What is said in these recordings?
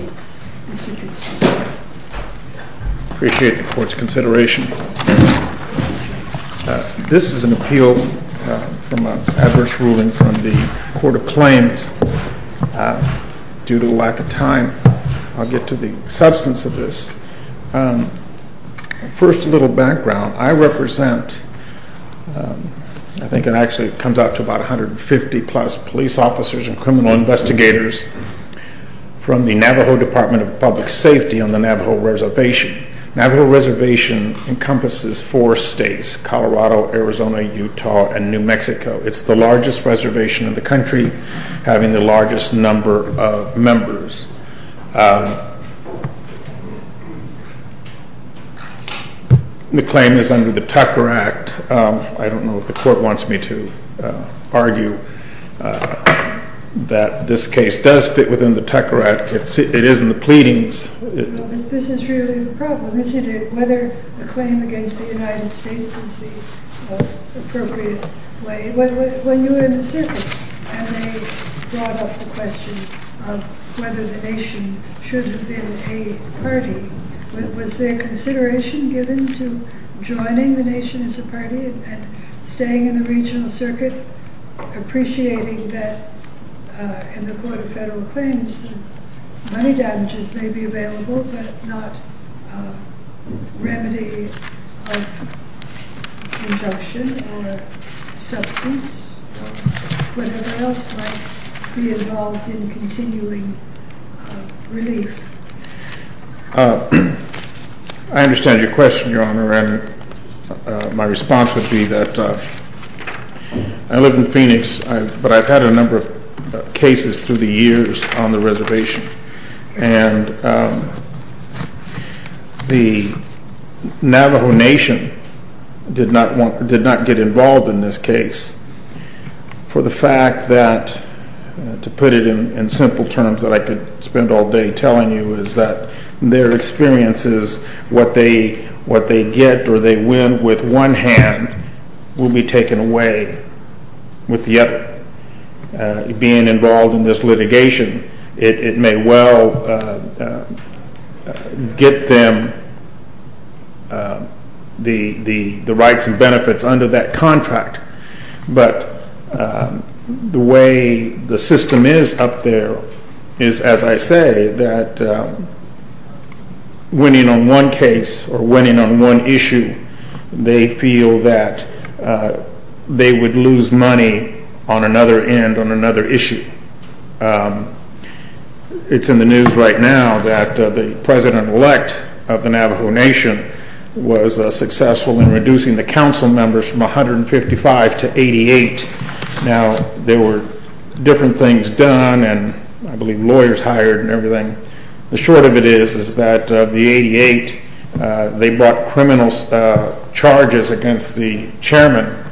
I appreciate the court's consideration. This is an appeal from an adverse ruling from the Court of Claims. Due to lack of time, I'll get to the substance of this. First, a little background. I represent, I think it actually comes out to about 150 plus police officers and criminal investigators from the Navajo Department of Public Safety on the Navajo Reservation. Navajo Reservation encompasses four states, Colorado, Arizona, Utah and New Mexico. It's the largest reservation in the country, having the largest number of members. The claim is under the Tucker Act. I don't know if the court wants me to argue that this case does fit within the Tucker Act. It is in the pleadings. This is really the problem, isn't it? Whether the claim against the United States is the most appropriate way. When you were in the circuit and they brought up the question of whether the nation should have been a party, was there consideration given to joining the nation as a party and staying in the regional circuit, appreciating that in the Court of I understand your question, Your Honor. My response would be that I live in Phoenix, but I've had a The Navajo Nation did not get involved in this case for the fact that, to put it in simple terms that I could spend all day telling you, is that their experience is what they get or they win with one hand will be taken away with the other. Being involved in this litigation, it may well get them the rights and benefits under that contract, but the way the system is up there is, as I say, that winning on one case or winning on one issue, they feel that they would lose money on another end, on another issue. It's in the news right now that the president-elect of the Navajo Nation was successful in reducing the council members from 155 to 88. Now, there were different things done, and I believe lawyers hired and everything. The short of it is that of the 88, they brought criminal charges against the chairman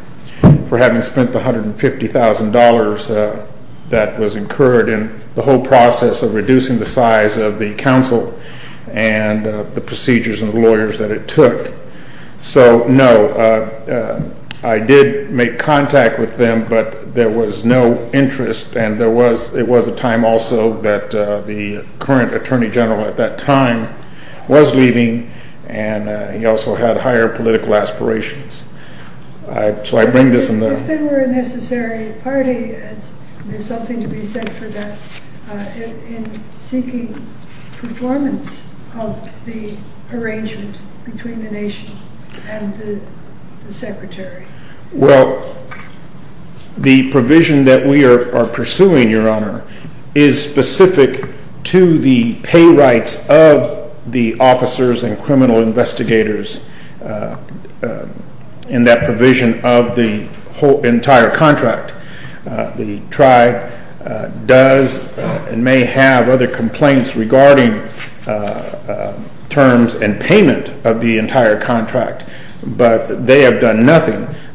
for having spent the $150,000 that was incurred in the whole process of reducing the size of the council and the procedures and the lawyers that it took. So, no, I did make contact with them, but there was no interest, and there was a time also that the current attorney general at that time was leaving, and he also had higher political aspirations. So, I bring this in the... If they were a necessary party, is there something to be said for that in seeking performance of the arrangement between the nation and the secretary? Well, the provision that we are pursuing, Your Honor, is specific to the pay rights of the officers and criminal investigators in that provision of the entire contract. The tribe does and may have other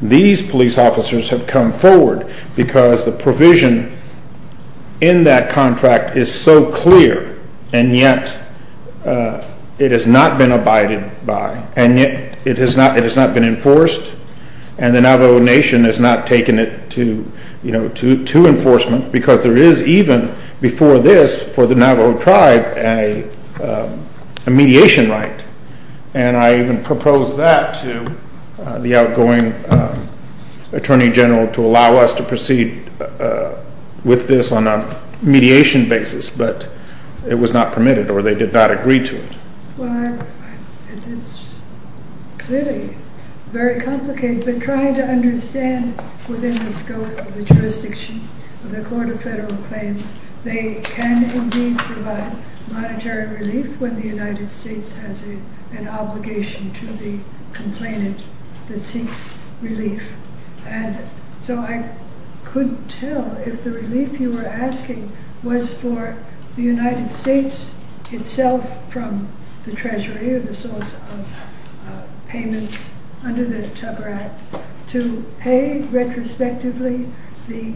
These police officers have come forward because the provision in that contract is so clear, and yet it has not been abided by, and yet it has not been enforced, and the Navajo Nation has not taken it to enforcement because there is even before this, for the Navajo tribe, a mediation right, and I even propose that to the attorney general to allow us to proceed with this on a mediation basis, but it was not permitted or they did not agree to it. Well, it is clearly very complicated, but trying to understand within the scope of the jurisdiction of the Court of Federal Claims, they can indeed provide monetary relief when the United States has an obligation to the complainant that seeks relief, and so I could tell if the relief you were asking was for the United States itself from the treasury or the source of payments under the Tupper Act to pay retrospectively the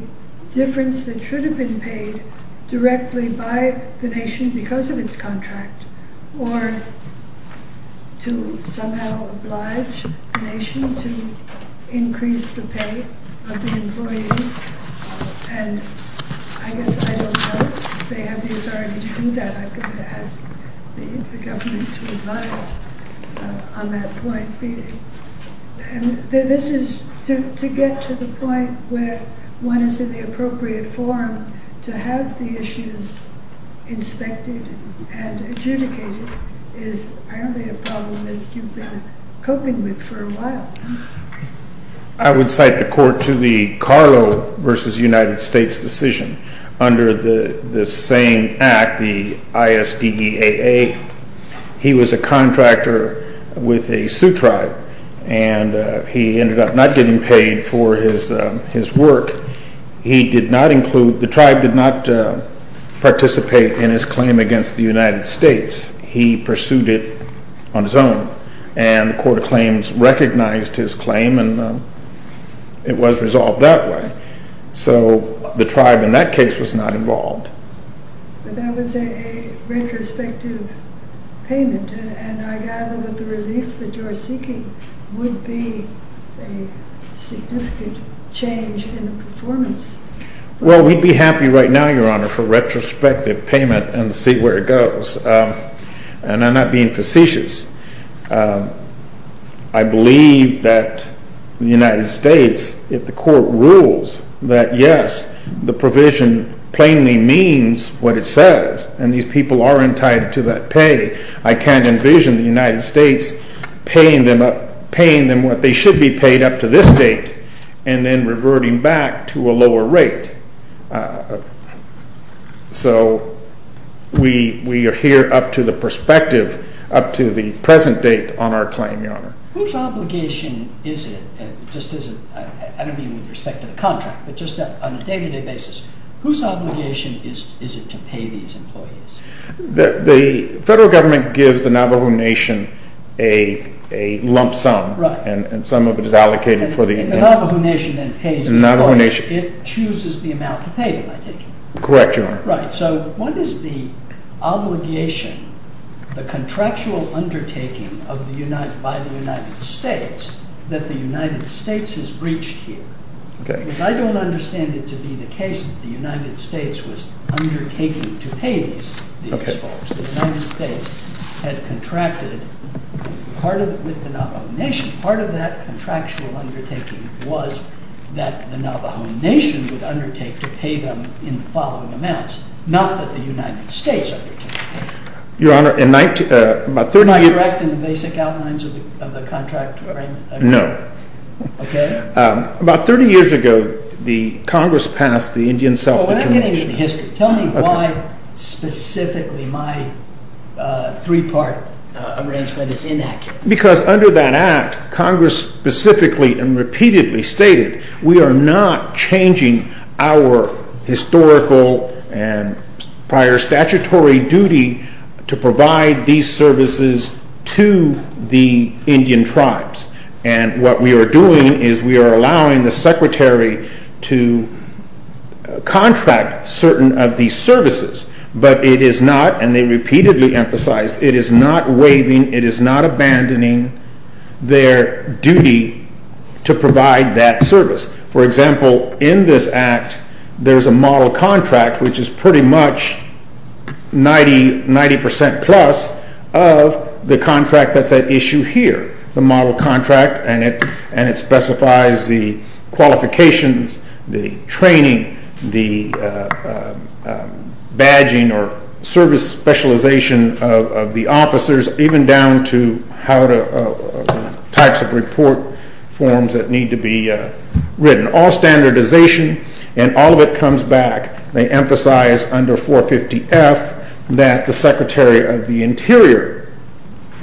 difference that should have been paid directly by the Nation because of its contract, or to somehow oblige the Nation to increase the pay of the employees, and I guess I don't know if they have the authority to do that. I'm going to ask the government to advise on that point. This is to get to the point where one is in the appropriate form to have the issues inspected and adjudicated is probably a problem that you've been coping with for a while. I would cite the Court to the Carlo v. United States decision under the same Act, the ISDEAA. He was a contractor with a Sioux Tribe, and he ended up not getting paid for his work. He did not include, the Tribe did not participate in his claim against the United States. He pursued it on his own, and the Court of Claims recognized his claim, and it was resolved that way. So the Tribe in that case was not involved. But that was a retrospective payment, and I gather that the relief that you are seeking would be a significant change in the performance. Well, we'd be happy right now, Your Honor, for retrospective payment and see where it goes. And I'm not being facetious. I believe that the United States, if the Court rules that yes, the provision plainly means what it says, and these people are entitled to that pay, I can't envision the United States paying them what they should be paid up to this date, and then reverting back to a lower rate. So we are here up to the perspective, up to the present date on our claim, Your Honor. Whose obligation is it, just as, I don't mean with respect to the contract, but just on a day-to-day basis, whose obligation is it to pay these employees? The federal government gives the Navajo Nation a lump sum, and some of it is allocated for the... And the Navajo Nation then pays the employees. It chooses the amount to pay them, I take it? Correct, Your Honor. Right. So what is the obligation, the contractual undertaking by the United States, that the United States has breached here? Because I don't understand it to be the case that the United States was undertaking to pay these folks. The United States had contracted with the Navajo Nation. Part of that contractual undertaking was that the Navajo Nation would undertake to pay them in the following amounts, not that the United States undertook. Your Honor, in 19... Am I correct in the basic outlines of the contract? No. Okay? About 30 years ago, the Congress passed the Indian Self-Determination... Well, we're not getting into history. Tell me why specifically my three-part arrangement is inaccurate. Because under that act, Congress specifically and repeatedly stated, we are not changing our historical and prior statutory duty to provide these services to the Indian tribes. And what we are doing is we are allowing the Secretary to contract certain of these services, but it is not, and they repeatedly emphasized, it is not waiving, it is not abandoning their duty to provide that service. For example, in this act, there's a model contract, which is pretty much 90% plus of the contract that's at issue here. The model contract, and it specifies the qualifications, the training, the badging or service specialization of the officers, even down to types of report forms that need to be written. All standardization, and all of it comes back, they emphasize under 450F that the Secretary of the Interior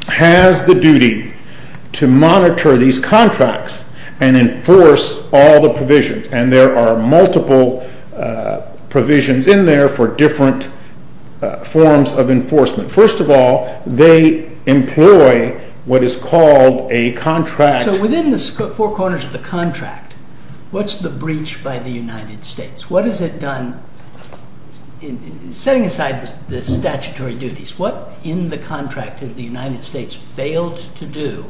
has the duty to monitor these contracts and enforce all the provisions. And there are multiple provisions in there for different forms of enforcement. First of all, they employ what is called a contract... What's the breach by the United States? What has it done, setting aside the statutory duties, what in the contract has the United States failed to do,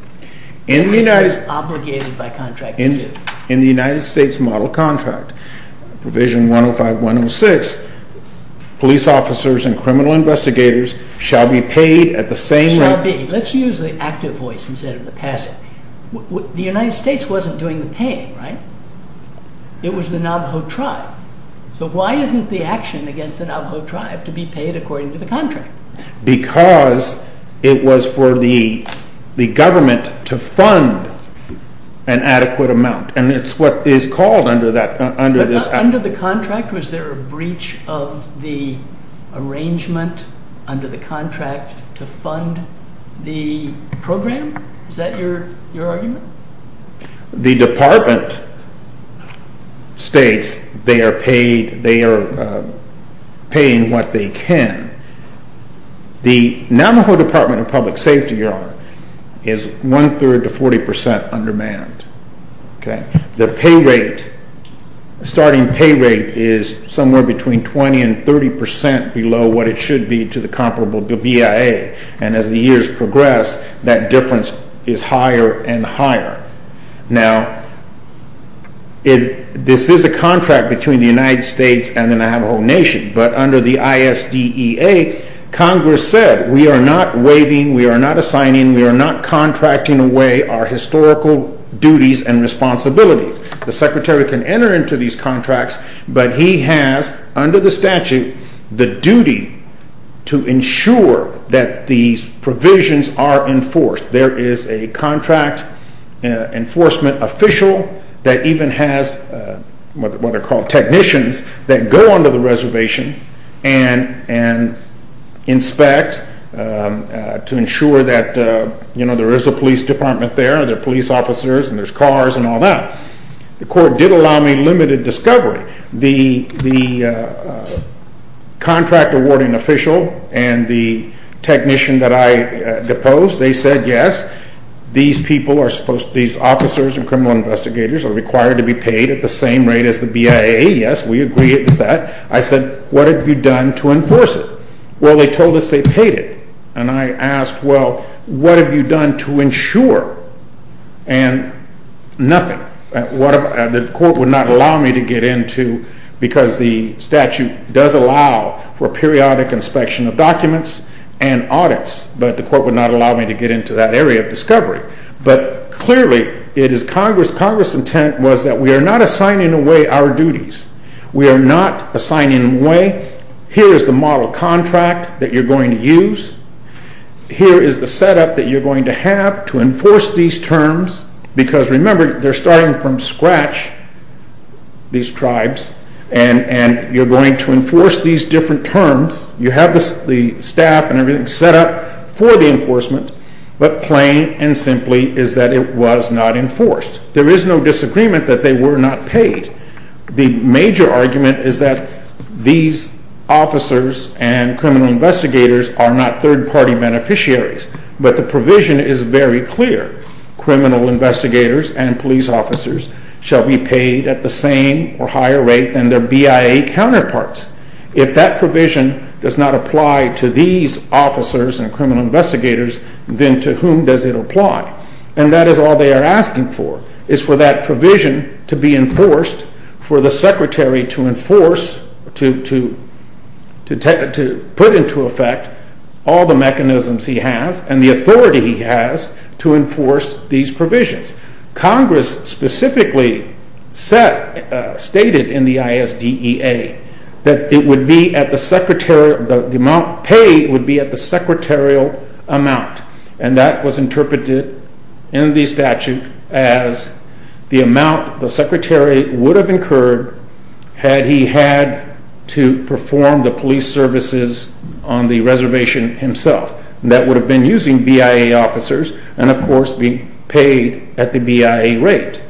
obligated by contract to do? In the United States model contract, provision 105.106, police officers and criminal investigators shall be paid at the same rate... It was the Navajo tribe. So why isn't the action against the Navajo tribe to be paid according to the contract? Because it was for the government to fund an adequate amount. And it's what is called under this... Under the contract, was there a breach of the arrangement under the contract to fund the program? Is that your argument? The department states they are paid, they are paying what they can. The Navajo Department of Public Safety, Your Honor, is one-third to 40% undermanned. The pay rate, starting pay rate is somewhere between 20 and 30% below what it should be to the comparable BIA. And as the years progress, that difference is higher and higher. Now, this is a contract between the United States and the Navajo Nation. But under the ISDEA, Congress said we are not waiving, we are not assigning, we are not contracting away our historical duties and responsibilities. The Secretary can enter into these contracts, but he has, under the statute, the duty to ensure that these provisions are enforced. There is a contract enforcement official that even has what are called technicians that go under the reservation and inspect to ensure that there is a police department there, there are police officers and there are cars and all that. The court did allow me limited discovery. The contract awarding official and the technician that I deposed, they said, yes, these people, these officers and criminal investigators are required to be paid at the same rate as the BIA. Yes, we agree with that. I said, what have you done to enforce it? Well, they told us they paid it. And I asked, well, what have you done to ensure? And nothing. The court would not allow me to get into, because the statute does allow for periodic inspection of documents and audits, but the court would not allow me to get into that area of discovery. But clearly, it is Congress. Congress' intent was that we are not assigning away our duties. We are not assigning away, here is the model contract that you are going to use. Here is the setup that you are going to have to enforce these terms, because remember, they are starting from scratch, these tribes, and you are going to enforce these different terms. You have the staff and everything set up for the enforcement, but plain and simply is that it was not enforced. There is no disagreement that they were not paid. The major argument is that these officers and criminal investigators are not third-party beneficiaries, but the provision is very clear. Criminal investigators and police officers shall be paid at the same or higher rate than their BIA counterparts. If that provision does not apply to these officers and criminal investigators, then to whom does it apply? And that is all they are asking for, is for that provision to be enforced for the secretary to enforce, to put into effect all the mechanisms he has and the authority he has to enforce these provisions. Congress specifically stated in the ISDEA that the amount paid would be at the secretarial amount, and that was interpreted in the statute as the amount the secretary would have incurred had he had to perform the police services on the reservation himself. That would have been using BIA officers and, of course, being paid at the BIA rate.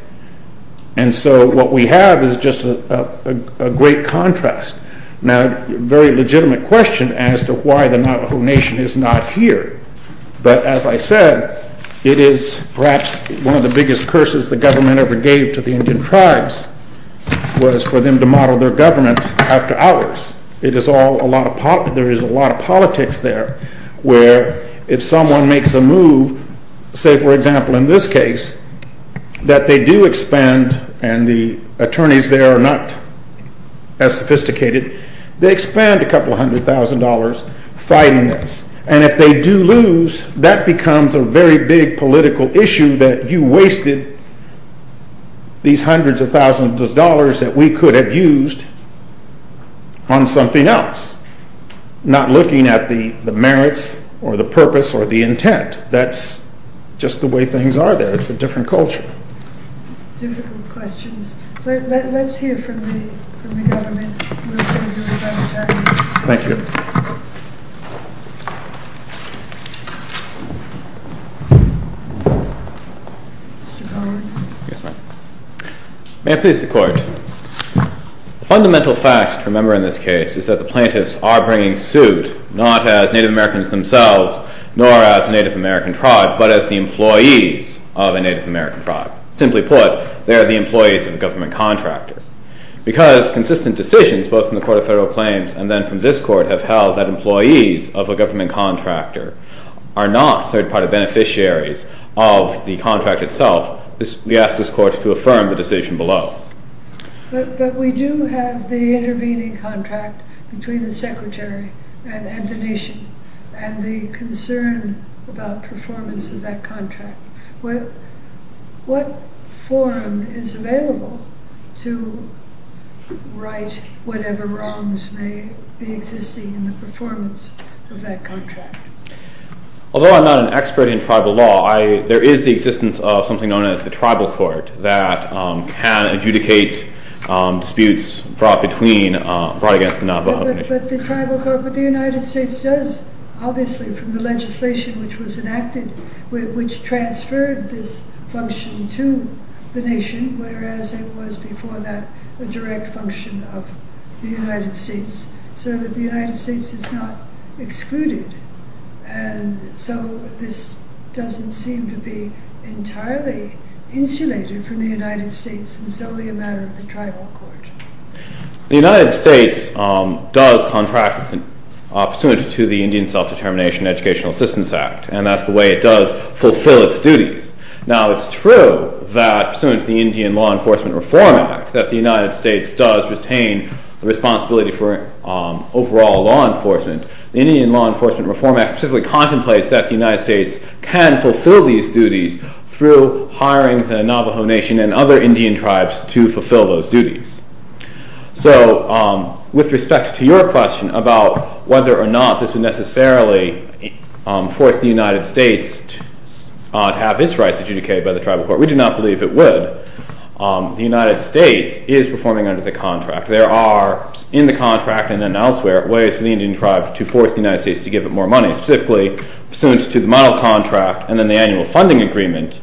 And so what we have is just a great contrast. Now, a very legitimate question as to why the Navajo Nation is not here, but as I said, it is perhaps one of the biggest curses the government ever gave to the Indian tribes was for them to model their government after ours. There is a lot of politics there where if someone makes a move, say for example in this case, that they do expand, and the attorneys there are not as sophisticated, they expand a couple hundred thousand dollars fighting this. And if they do lose, that becomes a very big political issue that you wasted these hundreds of thousands of dollars that we could have used on something else, not looking at the merits or the purpose or the intent. That is just the way things are there. It is a different culture. Difficult questions. Let's hear from the government. Thank you. May it please the Court. The fundamental fact to remember in this case is that the plaintiffs are bringing suit not as Native Americans themselves, nor as a Native American tribe, but as the employees of a Native American tribe. Simply put, they are the employees of a government contractor. Because consistent decisions, both from the Court of Federal Claims and then from this Court, have held that employees of a government contractor are not third-party beneficiaries of the contract itself, we ask this Court to affirm the decision below. But we do have the intervening contract between the Secretary and the Nation, and the concern about performance of that contract. What forum is available to right whatever wrongs may be existing in the performance of that contract? Although I am not an expert in tribal law, there is the existence of something known as the Tribal Court that can adjudicate disputes brought against the Navajo Nation. But the United States does, obviously from the legislation which was enacted, which transferred this function to the Nation, whereas it was before that a direct function of the United States. So that the United States is not excluded, and so this doesn't seem to be entirely insulated from the United States, and so be a matter of the Tribal Court. The United States does contract pursuant to the Indian Self-Determination Educational Assistance Act, and that's the way it does fulfill its duties. Now it's true that, pursuant to the Indian Law Enforcement Reform Act, that the United States does retain the responsibility for overall law enforcement. The Indian Law Enforcement Reform Act specifically contemplates that the United States can fulfill these duties through hiring the Navajo Nation and other Indian tribes to fulfill those duties. So, with respect to your question about whether or not this would necessarily force the United States to have its rights adjudicated by the Tribal Court, we do not believe it would. The United States is performing under the contract. There are, in the contract and elsewhere, ways for the Indian tribe to force the United States to give it more money. Specifically, pursuant to the model contract and then the annual funding agreement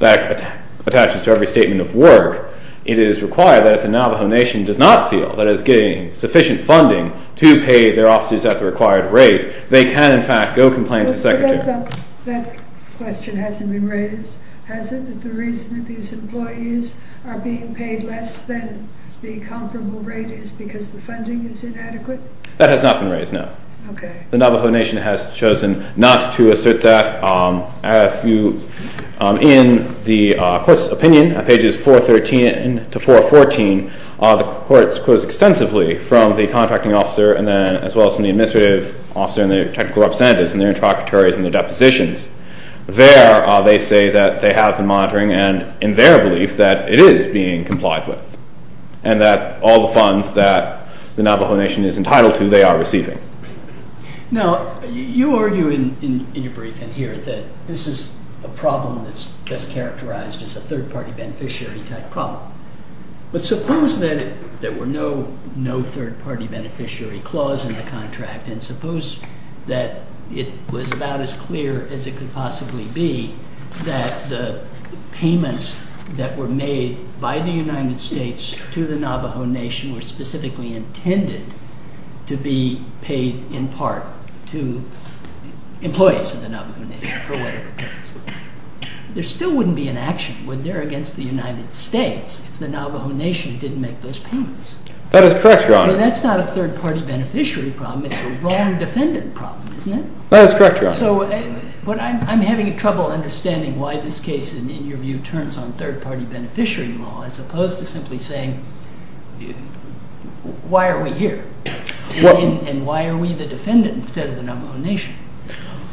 that attaches to every statement of work, it is required that if the Navajo Nation does not feel that it is getting sufficient funding to pay their offices at the required rate, they can in fact go complain to the Secretary. But that question hasn't been raised, has it? That the reason that these employees are being paid less than the comparable rate is because the funding is inadequate? That has not been raised, no. Okay. The Navajo Nation has chosen not to assert that. In the Court's opinion, on pages 413 to 414, the Court quotes extensively from the contracting officer and then as well as from the administrative officer and their technical representatives and their interlocutories and their depositions. There, they say that they have been monitoring and in their belief that it is being complied with and that all the funds that the Navajo Nation is entitled to, they are receiving. Okay. Now, you argue in your briefing here that this is a problem that's best characterized as a third-party beneficiary-type problem. But suppose that there were no third-party beneficiary clause in the contract and suppose that it was about as clear as it could possibly be that the payments that were made by the United States to the Navajo Nation were specifically intended to be paid in part to employees of the Navajo Nation for whatever purpose. There still wouldn't be an action, would there, against the United States if the Navajo Nation didn't make those payments? That is correct, Your Honor. But that's not a third-party beneficiary problem. It's a wrong defendant problem, isn't it? That is correct, Your Honor. So I'm having trouble understanding why this case, in your view, turns on third-party beneficiary law as opposed to simply saying, why are we here and why are we the defendant instead of the Navajo Nation?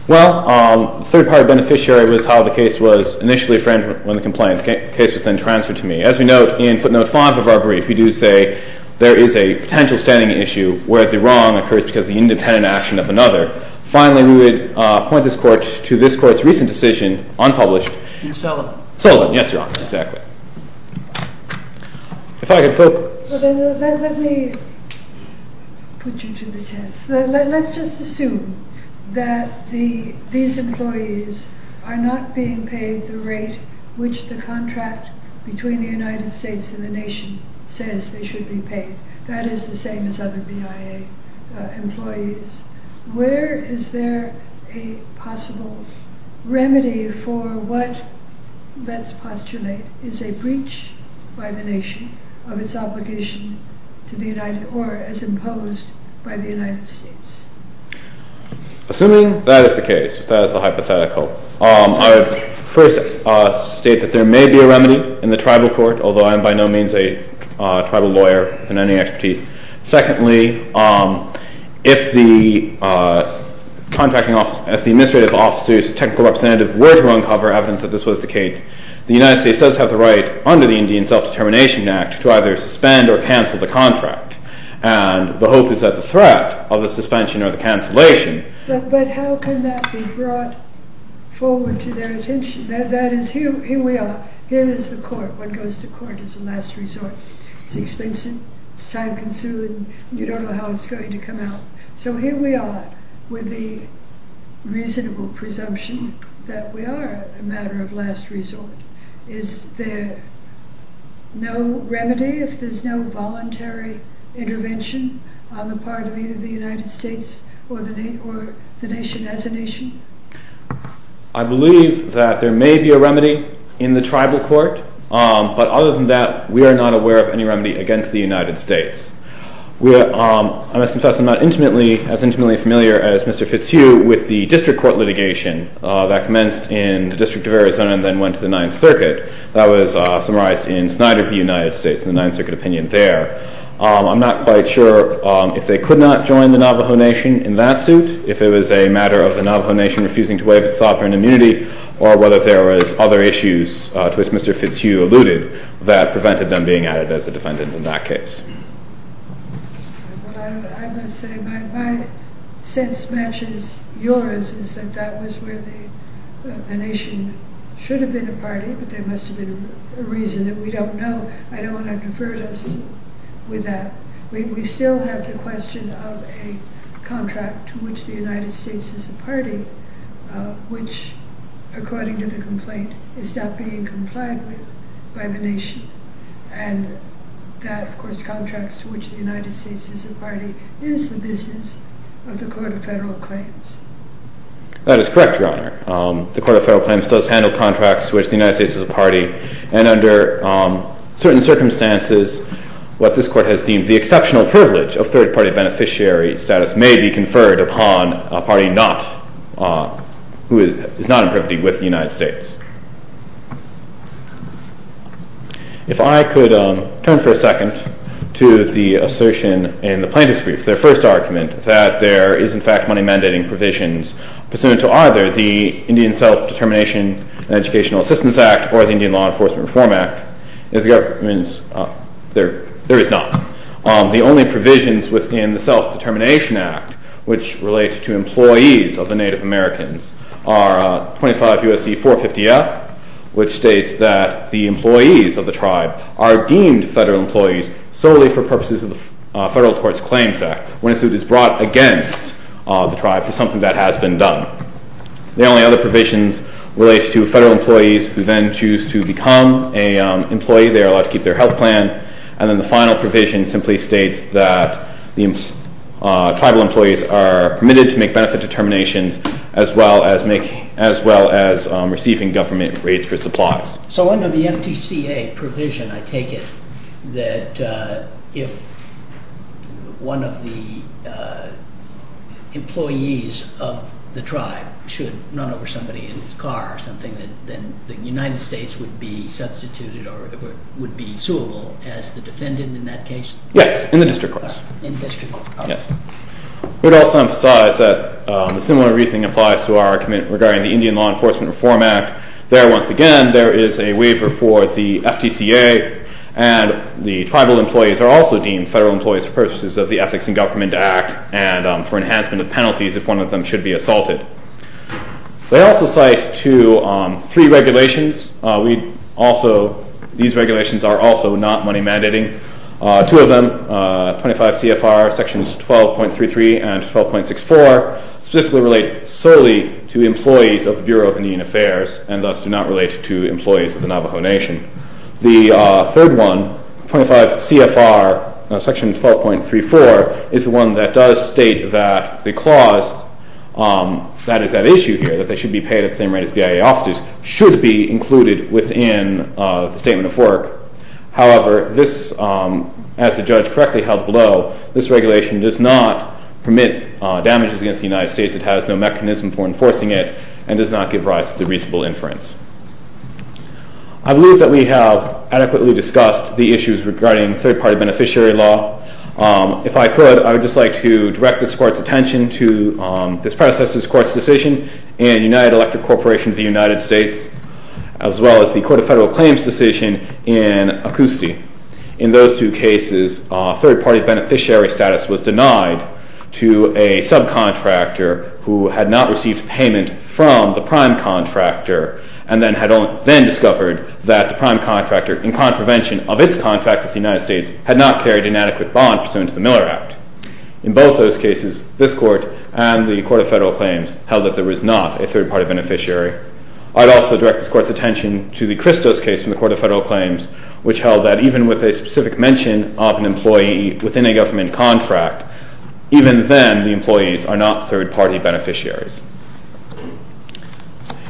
Well, third-party beneficiary was how the case was initially framed when the complaint. The case was then transferred to me. As we note in footnote 5 of our brief, we do say there is a potential standing issue where the wrong occurs because of the independent action of another. Finally, we would point this Court to this Court's recent decision, unpublished. Sullivan. Sullivan, yes, Your Honor. Exactly. If I could focus. Let me put you to the test. Let's just assume that these employees are not being paid the rate which the contract between the United States and the nation says they should be paid. That is the same as other BIA employees. Where is there a possible remedy for what, let's postulate, is a breach by the nation of its obligation to the United or as imposed by the United States? Assuming that is the case, that is the hypothetical, I would first state that there may be a remedy in the tribal court, although I am by no means a tribal lawyer in any expertise. Secondly, if the administrative officers, technical representatives, were to uncover evidence that this was the case, the United States does have the right under the Indian Self-Determination Act to either suspend or cancel the contract. And the hope is that the threat of the suspension or the cancellation... But how can that be brought forward to their attention? That is, here we are. Here is the court. What goes to court is a last resort. It is expensive. It is time consuming. You don't know how it is going to come out. So here we are with the reasonable presumption that we are a matter of last resort. Is there no remedy if there is no voluntary intervention on the part of either the United States or the nation as a nation? I believe that there may be a remedy in the tribal court, but other than that, we are not aware of any remedy against the United States. I must confess I am not as intimately familiar as Mr. Fitzhugh with the district court litigation that commenced in the District of Arizona and then went to the Ninth Circuit. That was summarized in Snyder v. United States in the Ninth Circuit opinion there. I am not quite sure if they could not join the Navajo Nation in that suit, if it was a matter of the Navajo Nation refusing to waive its sovereign immunity, or whether there were other issues, to which Mr. Fitzhugh alluded, that prevented them being added as a defendant in that case. Well, I must say my sense matches yours is that that was where the nation should have been a party, but there must have been a reason that we don't know. I don't want to have deferred us with that. We still have the question of a contract to which the United States is a party, which, according to the complaint, is not being complied with by the nation. And that, of course, contracts to which the United States is a party is the business of the Court of Federal Claims. That is correct, Your Honor. The Court of Federal Claims does handle contracts to which the United States is a party, and under certain circumstances what this Court has deemed the exceptional privilege of third-party beneficiary status may be conferred upon a party who is not in privity with the United States. If I could turn for a second to the assertion in the plaintiff's brief, their first argument, that there is, in fact, money mandating provisions pursuant to either the Indian Self-Determination and Educational Assistance Act or the Indian Law Enforcement Reform Act. There is not. The only provisions within the Self-Determination Act which relate to employees of the Native Americans are 25 U.S.C. 450-F, which states that the employees of the tribe are deemed federal employees solely for purposes of the Federal Courts Claims Act when a suit is brought against the tribe for something that has been done. The only other provisions relate to federal employees who then choose to become an employee. They are allowed to keep their health plan. And then the final provision simply states that tribal employees are permitted to make benefit determinations as well as receiving government rates for supplies. So under the FTCA provision, I take it that if one of the employees of the tribe should run over somebody in his car or something, then the United States would be substituted or would be suable as the defendant in that case? Yes, in the district courts. In district courts. Yes. We would also emphasize that a similar reasoning applies to our argument regarding the Indian Law Enforcement Reform Act. There, once again, there is a waiver for the FTCA, and the tribal employees are also deemed federal employees for purposes of the Ethics in Government Act and for enhancement of penalties if one of them should be assaulted. They also cite three regulations. These regulations are also not money mandating. Two of them, 25 CFR Sections 12.33 and 12.64, specifically relate solely to employees of the Bureau of Indian Affairs and thus do not relate to employees of the Navajo Nation. The third one, 25 CFR Section 12.34, is the one that does state that the clause that is at issue here, that they should be paid at the same rate as BIA officers, should be included within the Statement of Work. However, this, as the judge correctly held below, this regulation does not permit damages against the United States. It has no mechanism for enforcing it and does not give rise to the reasonable inference. I believe that we have adequately discussed the issues regarding third-party beneficiary law. If I could, I would just like to direct this Court's attention to this predecessor's Court's decision in United Electric Corporation of the United States as well as the Court of Federal Claims' decision in Acousti. In those two cases, third-party beneficiary status was denied to a subcontractor who had not received payment from the prime contractor and then discovered that the prime contractor, in contravention of its contract with the United States, had not carried an adequate bond pursuant to the Miller Act. In both those cases, this Court and the Court of Federal Claims held that there was not a third-party beneficiary. I'd also direct this Court's attention to the Christos case from the Court of Federal Claims, which held that even with a specific mention of an employee within a government contract, even then the employees are not third-party beneficiaries.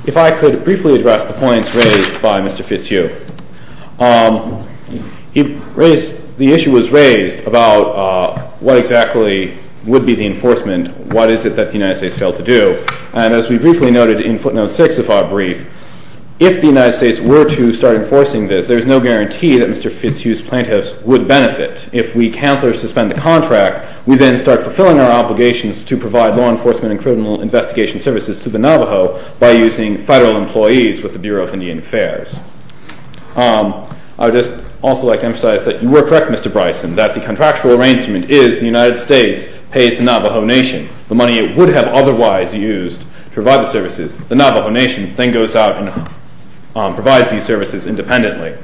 If I could briefly address the points raised by Mr. Fitzhugh. The issue was raised about what exactly would be the enforcement, what is it that the United States failed to do, and as we briefly noted in footnote 6 of our brief, if the United States were to start enforcing this, there is no guarantee that Mr. Fitzhugh's plaintiffs would benefit. If we cancel or suspend the contract, we then start fulfilling our obligations to provide law enforcement and criminal investigation services to the Navajo by using federal employees with the Bureau of Indian Affairs. I would just also like to emphasize that you were correct, Mr. Bryson, that the contractual arrangement is the United States pays the Navajo Nation the money it would have otherwise used to provide the services. The Navajo Nation then goes out and provides these services independently.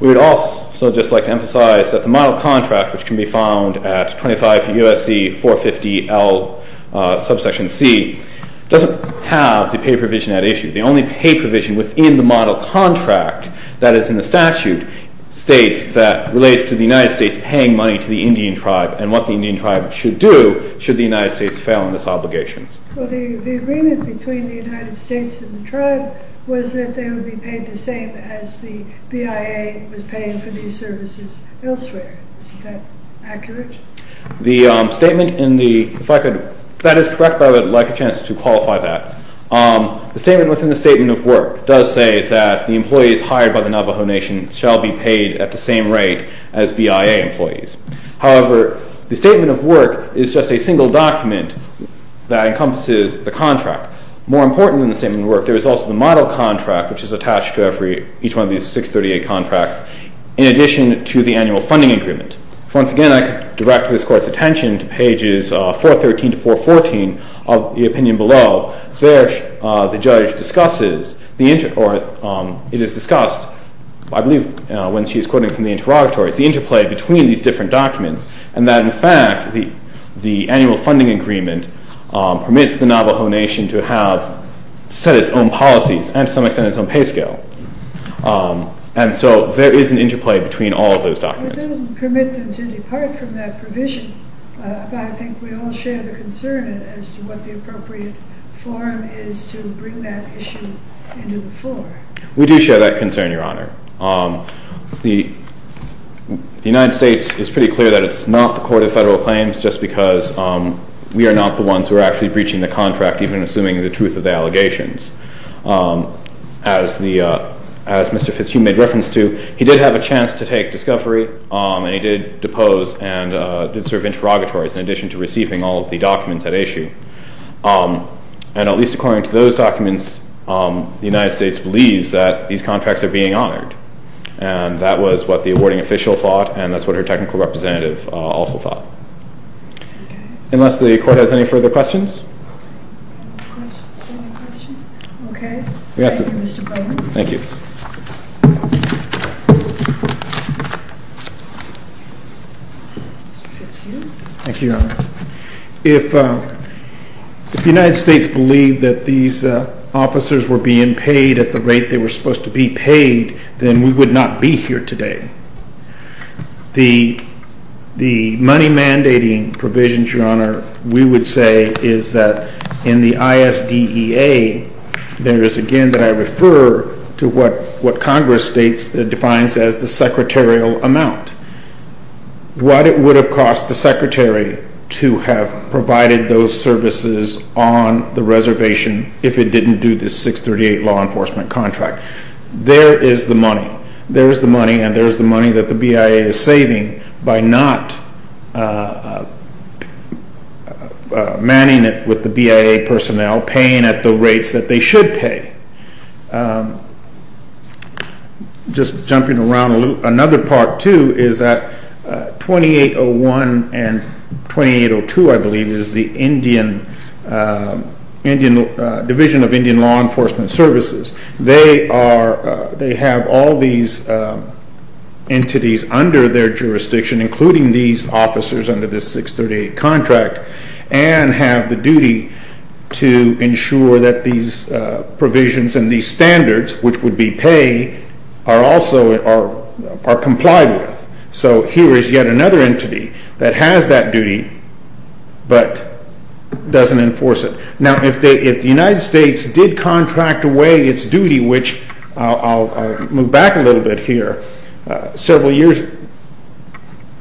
We would also just like to emphasize that the model contract, which can be found at 25 U.S.C. 450 L, subsection C, doesn't have the pay provision at issue. The only pay provision within the model contract that is in the statute states that relates to the United States paying money to the Indian tribe and what the Indian tribe should do should the United States fail in its obligations. The agreement between the United States and the tribe was that they would be paid the same as the BIA was paying for these services elsewhere. Isn't that accurate? That is correct, but I would like a chance to qualify that. The statement within the statement of work does say that the employees hired by the Navajo Nation shall be paid at the same rate as BIA employees. However, the statement of work is just a single document that encompasses the contract. More important than the statement of work, there is also the model contract, which is attached to each one of these 638 contracts, in addition to the annual funding agreement. Once again, I could direct this Court's attention to pages 413 to 414 of the opinion below. There, the judge discusses, or it is discussed, I believe when she is quoting from the interrogatories, the interplay between these different documents and that, in fact, the annual funding agreement permits the Navajo Nation to have set its own policies and, to some extent, its own pay scale. And so there is an interplay between all of those documents. It doesn't permit them to depart from that provision, but I think we all share the concern as to what the appropriate forum is to bring that issue into the fore. We do share that concern, Your Honor. The United States is pretty clear that it's not the Court of Federal Claims just because we are not the ones who are actually breaching the contract, even assuming the truth of the allegations. As Mr. Fitzhugh made reference to, he did have a chance to take discovery, and he did depose and did serve interrogatories, in addition to receiving all of the documents at issue. And at least according to those documents, the United States believes that these contracts are being honored. And that was what the awarding official thought, and that's what her technical representative also thought. Unless the Court has any further questions? Any questions? Okay. Thank you, Mr. Brennan. Thank you. Mr. Fitzhugh. Thank you, Your Honor. If the United States believed that these officers were being paid at the rate they were supposed to be paid, then we would not be here today. The money mandating provisions, Your Honor, we would say, is that in the ISDEA, there is, again, that I refer to what Congress defines as the secretarial amount. What it would have cost the Secretary to have provided those services on the reservation if it didn't do the 638 law enforcement contract. There is the money. There is the money, and there is the money that the BIA is saving by not manning it with the BIA personnel, paying at the rates that they should pay. Just jumping around a little. Another part, too, is that 2801 and 2802, I believe, is the Indian Division of Indian Law Enforcement Services. They have all these entities under their jurisdiction, including these officers under this 638 contract, and have the duty to ensure that these provisions and these standards, which would be pay, are also complied with. So here is yet another entity that has that duty but doesn't enforce it. Now, if the United States did contract away its duty, which I'll move back a little bit here, several years,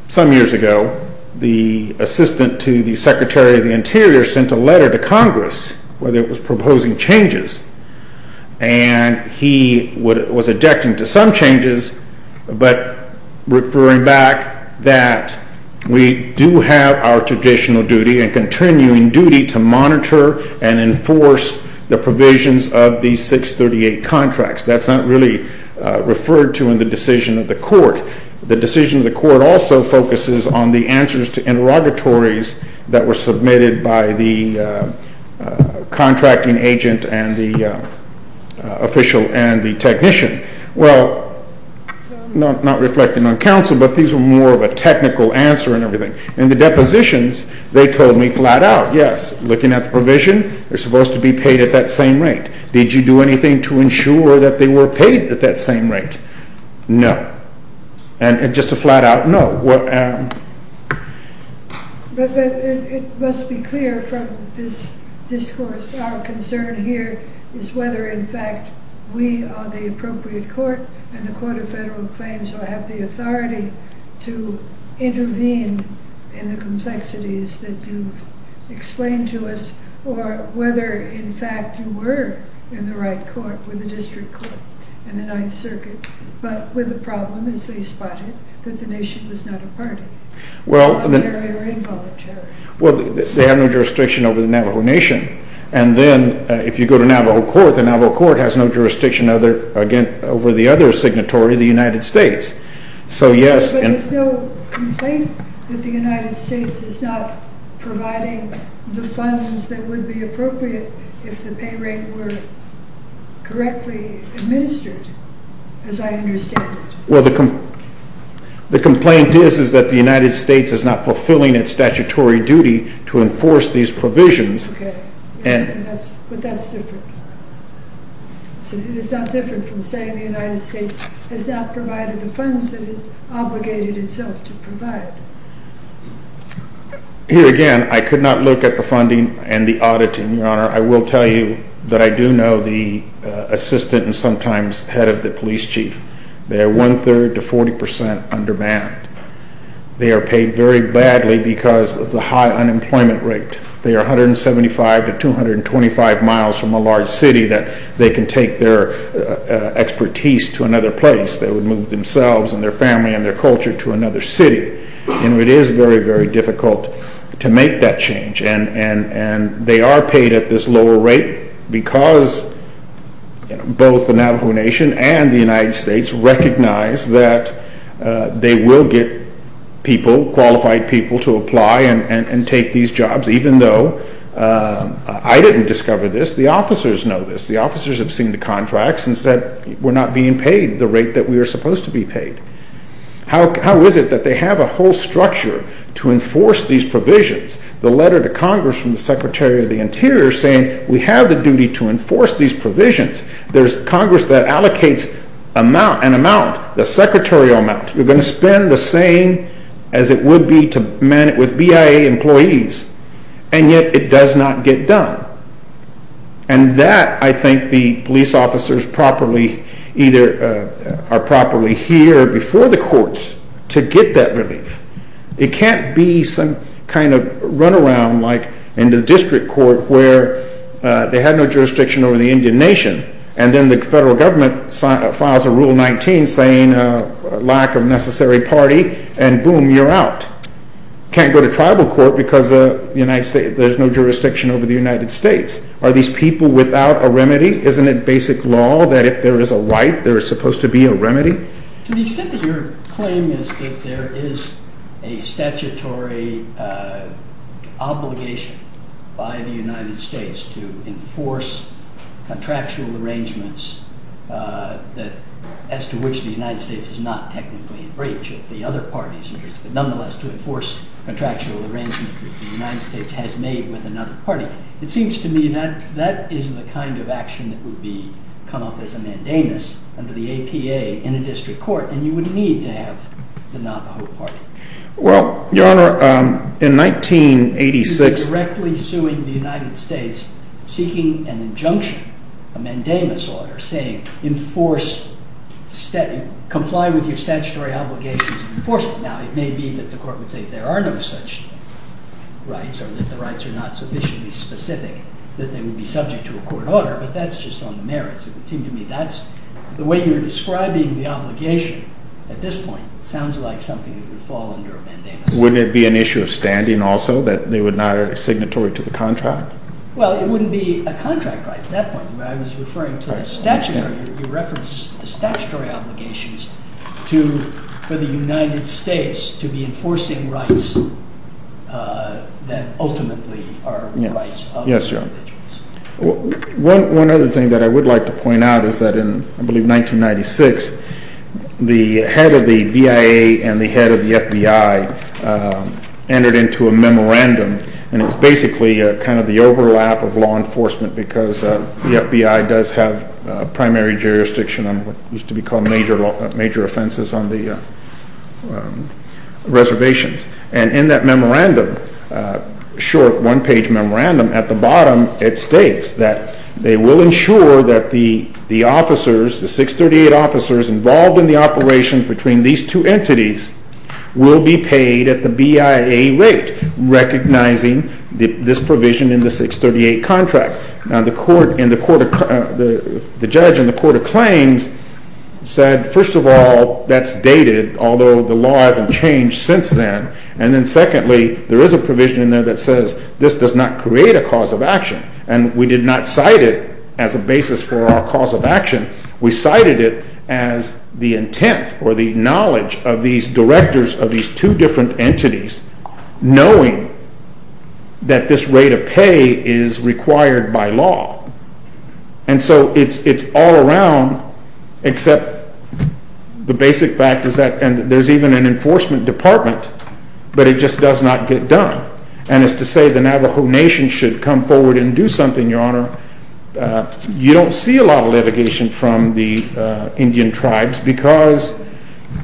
some years ago, the assistant to the Secretary of the Interior sent a letter to Congress where it was proposing changes, and he was addicting to some changes, but referring back that we do have our traditional duty and continuing duty to monitor and enforce the provisions of these 638 contracts. That's not really referred to in the decision of the court. The decision of the court also focuses on the answers to interrogatories that were submitted by the contracting agent and the official and the technician. Well, not reflecting on counsel, but these were more of a technical answer and everything. In the depositions, they told me flat out, yes, looking at the provision, they're supposed to be paid at that same rate. Did you do anything to ensure that they were paid at that same rate? No. And just a flat out no. But it must be clear from this discourse, our concern here is whether, in fact, we are the appropriate court and the Court of Federal Claims will have the authority to intervene in the complexities that you've explained to us, or whether, in fact, you were in the right court with the district court and the Ninth Circuit, but with the problem, as they spotted, that the nation was not a party, voluntary or involuntary. Well, they have no jurisdiction over the Navajo Nation, and then if you go to Navajo Court, the Navajo Court has no jurisdiction over the other signatory, the United States. So, yes. But it's no complaint that the United States is not providing the funds that would be appropriate if the pay rate were correctly administered, as I understand it. Well, the complaint is that the United States is not fulfilling its statutory duty to enforce these provisions. Okay. But that's different. It is not different from saying the United States has not provided the funds that it obligated itself to provide. Here again, I could not look at the funding and the auditing, Your Honor. I will tell you that I do know the assistant and sometimes head of the police chief. They are one-third to 40 percent under banned. They are paid very badly because of the high unemployment rate. They are 175 to 225 miles from a large city that they can take their expertise to another place. They would move themselves and their family and their culture to another city. And it is very, very difficult to make that change. And they are paid at this lower rate because both the Navajo Nation and the United States recognize that they will get people, qualified people to apply and take these jobs, even though I didn't discover this. The officers know this. The officers have seen the contracts and said we're not being paid the rate that we are supposed to be paid. How is it that they have a whole structure to enforce these provisions? The letter to Congress from the Secretary of the Interior saying we have the duty to enforce these provisions. There's Congress that allocates an amount, the secretarial amount. You're going to spend the same as it would be to man it with BIA employees, and yet it does not get done. And that I think the police officers either are properly here before the courts to get that relief. It can't be some kind of runaround like in the district court where they had no jurisdiction over the Indian Nation and then the federal government files a Rule 19 saying lack of necessary party and boom, you're out. Can't go to tribal court because there's no jurisdiction over the United States. Are these people without a remedy? Isn't it basic law that if there is a right, there is supposed to be a remedy? To the extent that your claim is that there is a statutory obligation by the United States to enforce contractual arrangements as to which the United States is not technically in breach of the other parties, but nonetheless to enforce contractual arrangements that the United States has made with another party. It seems to me that that is the kind of action that would come up as a mandamus under the APA in a district court, and you would need to have the Navajo Party. Well, Your Honor, in 1986 you were directly suing the United States seeking an injunction, a mandamus order, saying enforce, comply with your statutory obligations of enforcement. Now, it may be that the court would say there are no such rights or that the rights are not sufficiently specific that they would be subject to a court order, but that's just on the merits. It would seem to me that's the way you're describing the obligation at this point. It sounds like something that would fall under a mandamus. Wouldn't it be an issue of standing also that they would not be signatory to the contract? Well, it wouldn't be a contract right at that point. I was referring to the statutory. You referenced the statutory obligations for the United States to be enforcing rights that ultimately are rights of individuals. Yes, Your Honor. One other thing that I would like to point out is that in, I believe, 1996, the head of the BIA and the head of the FBI entered into a memorandum, and it was basically kind of the overlap of law enforcement because the FBI does have primary jurisdiction on what used to be called major offenses on the reservations. And in that memorandum, short one-page memorandum, at the bottom it states that they will ensure that the officers, the 638 officers involved in the operations between these two entities, will be paid at the BIA rate, recognizing this provision in the 638 contract. Now, the judge in the court of claims said, first of all, that's dated, although the law hasn't changed since then. And then secondly, there is a provision in there that says this does not create a cause of action. And we did not cite it as a basis for our cause of action. We cited it as the intent or the knowledge of these directors of these two different entities, knowing that this rate of pay is required by law. And so it's all around, except the basic fact is that there's even an enforcement department, but it just does not get done. And as to say the Navajo Nation should come forward and do something, Your Honor, you don't see a lot of litigation from the Indian tribes because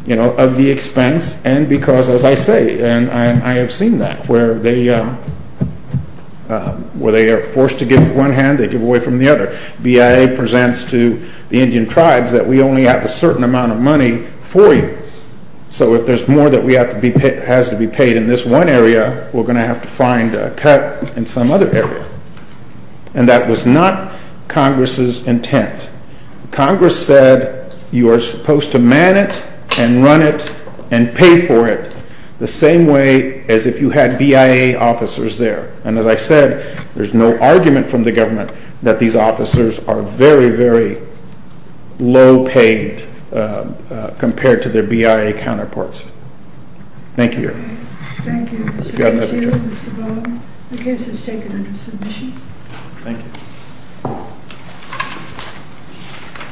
of the expense and because, as I say, and I have seen that, where they are forced to give with one hand, they give away from the other. BIA presents to the Indian tribes that we only have a certain amount of money for you. So if there's more that has to be paid in this one area, we're going to have to find a cut in some other area. And that was not Congress's intent. Congress said you are supposed to man it and run it and pay for it the same way as if you had BIA officers there. And as I said, there's no argument from the government that these officers are very, very low paid compared to their BIA counterparts. Thank you, Your Honor. Thank you, Mr. Garcia, Mr. Bowen. The case is taken under submission. Thank you.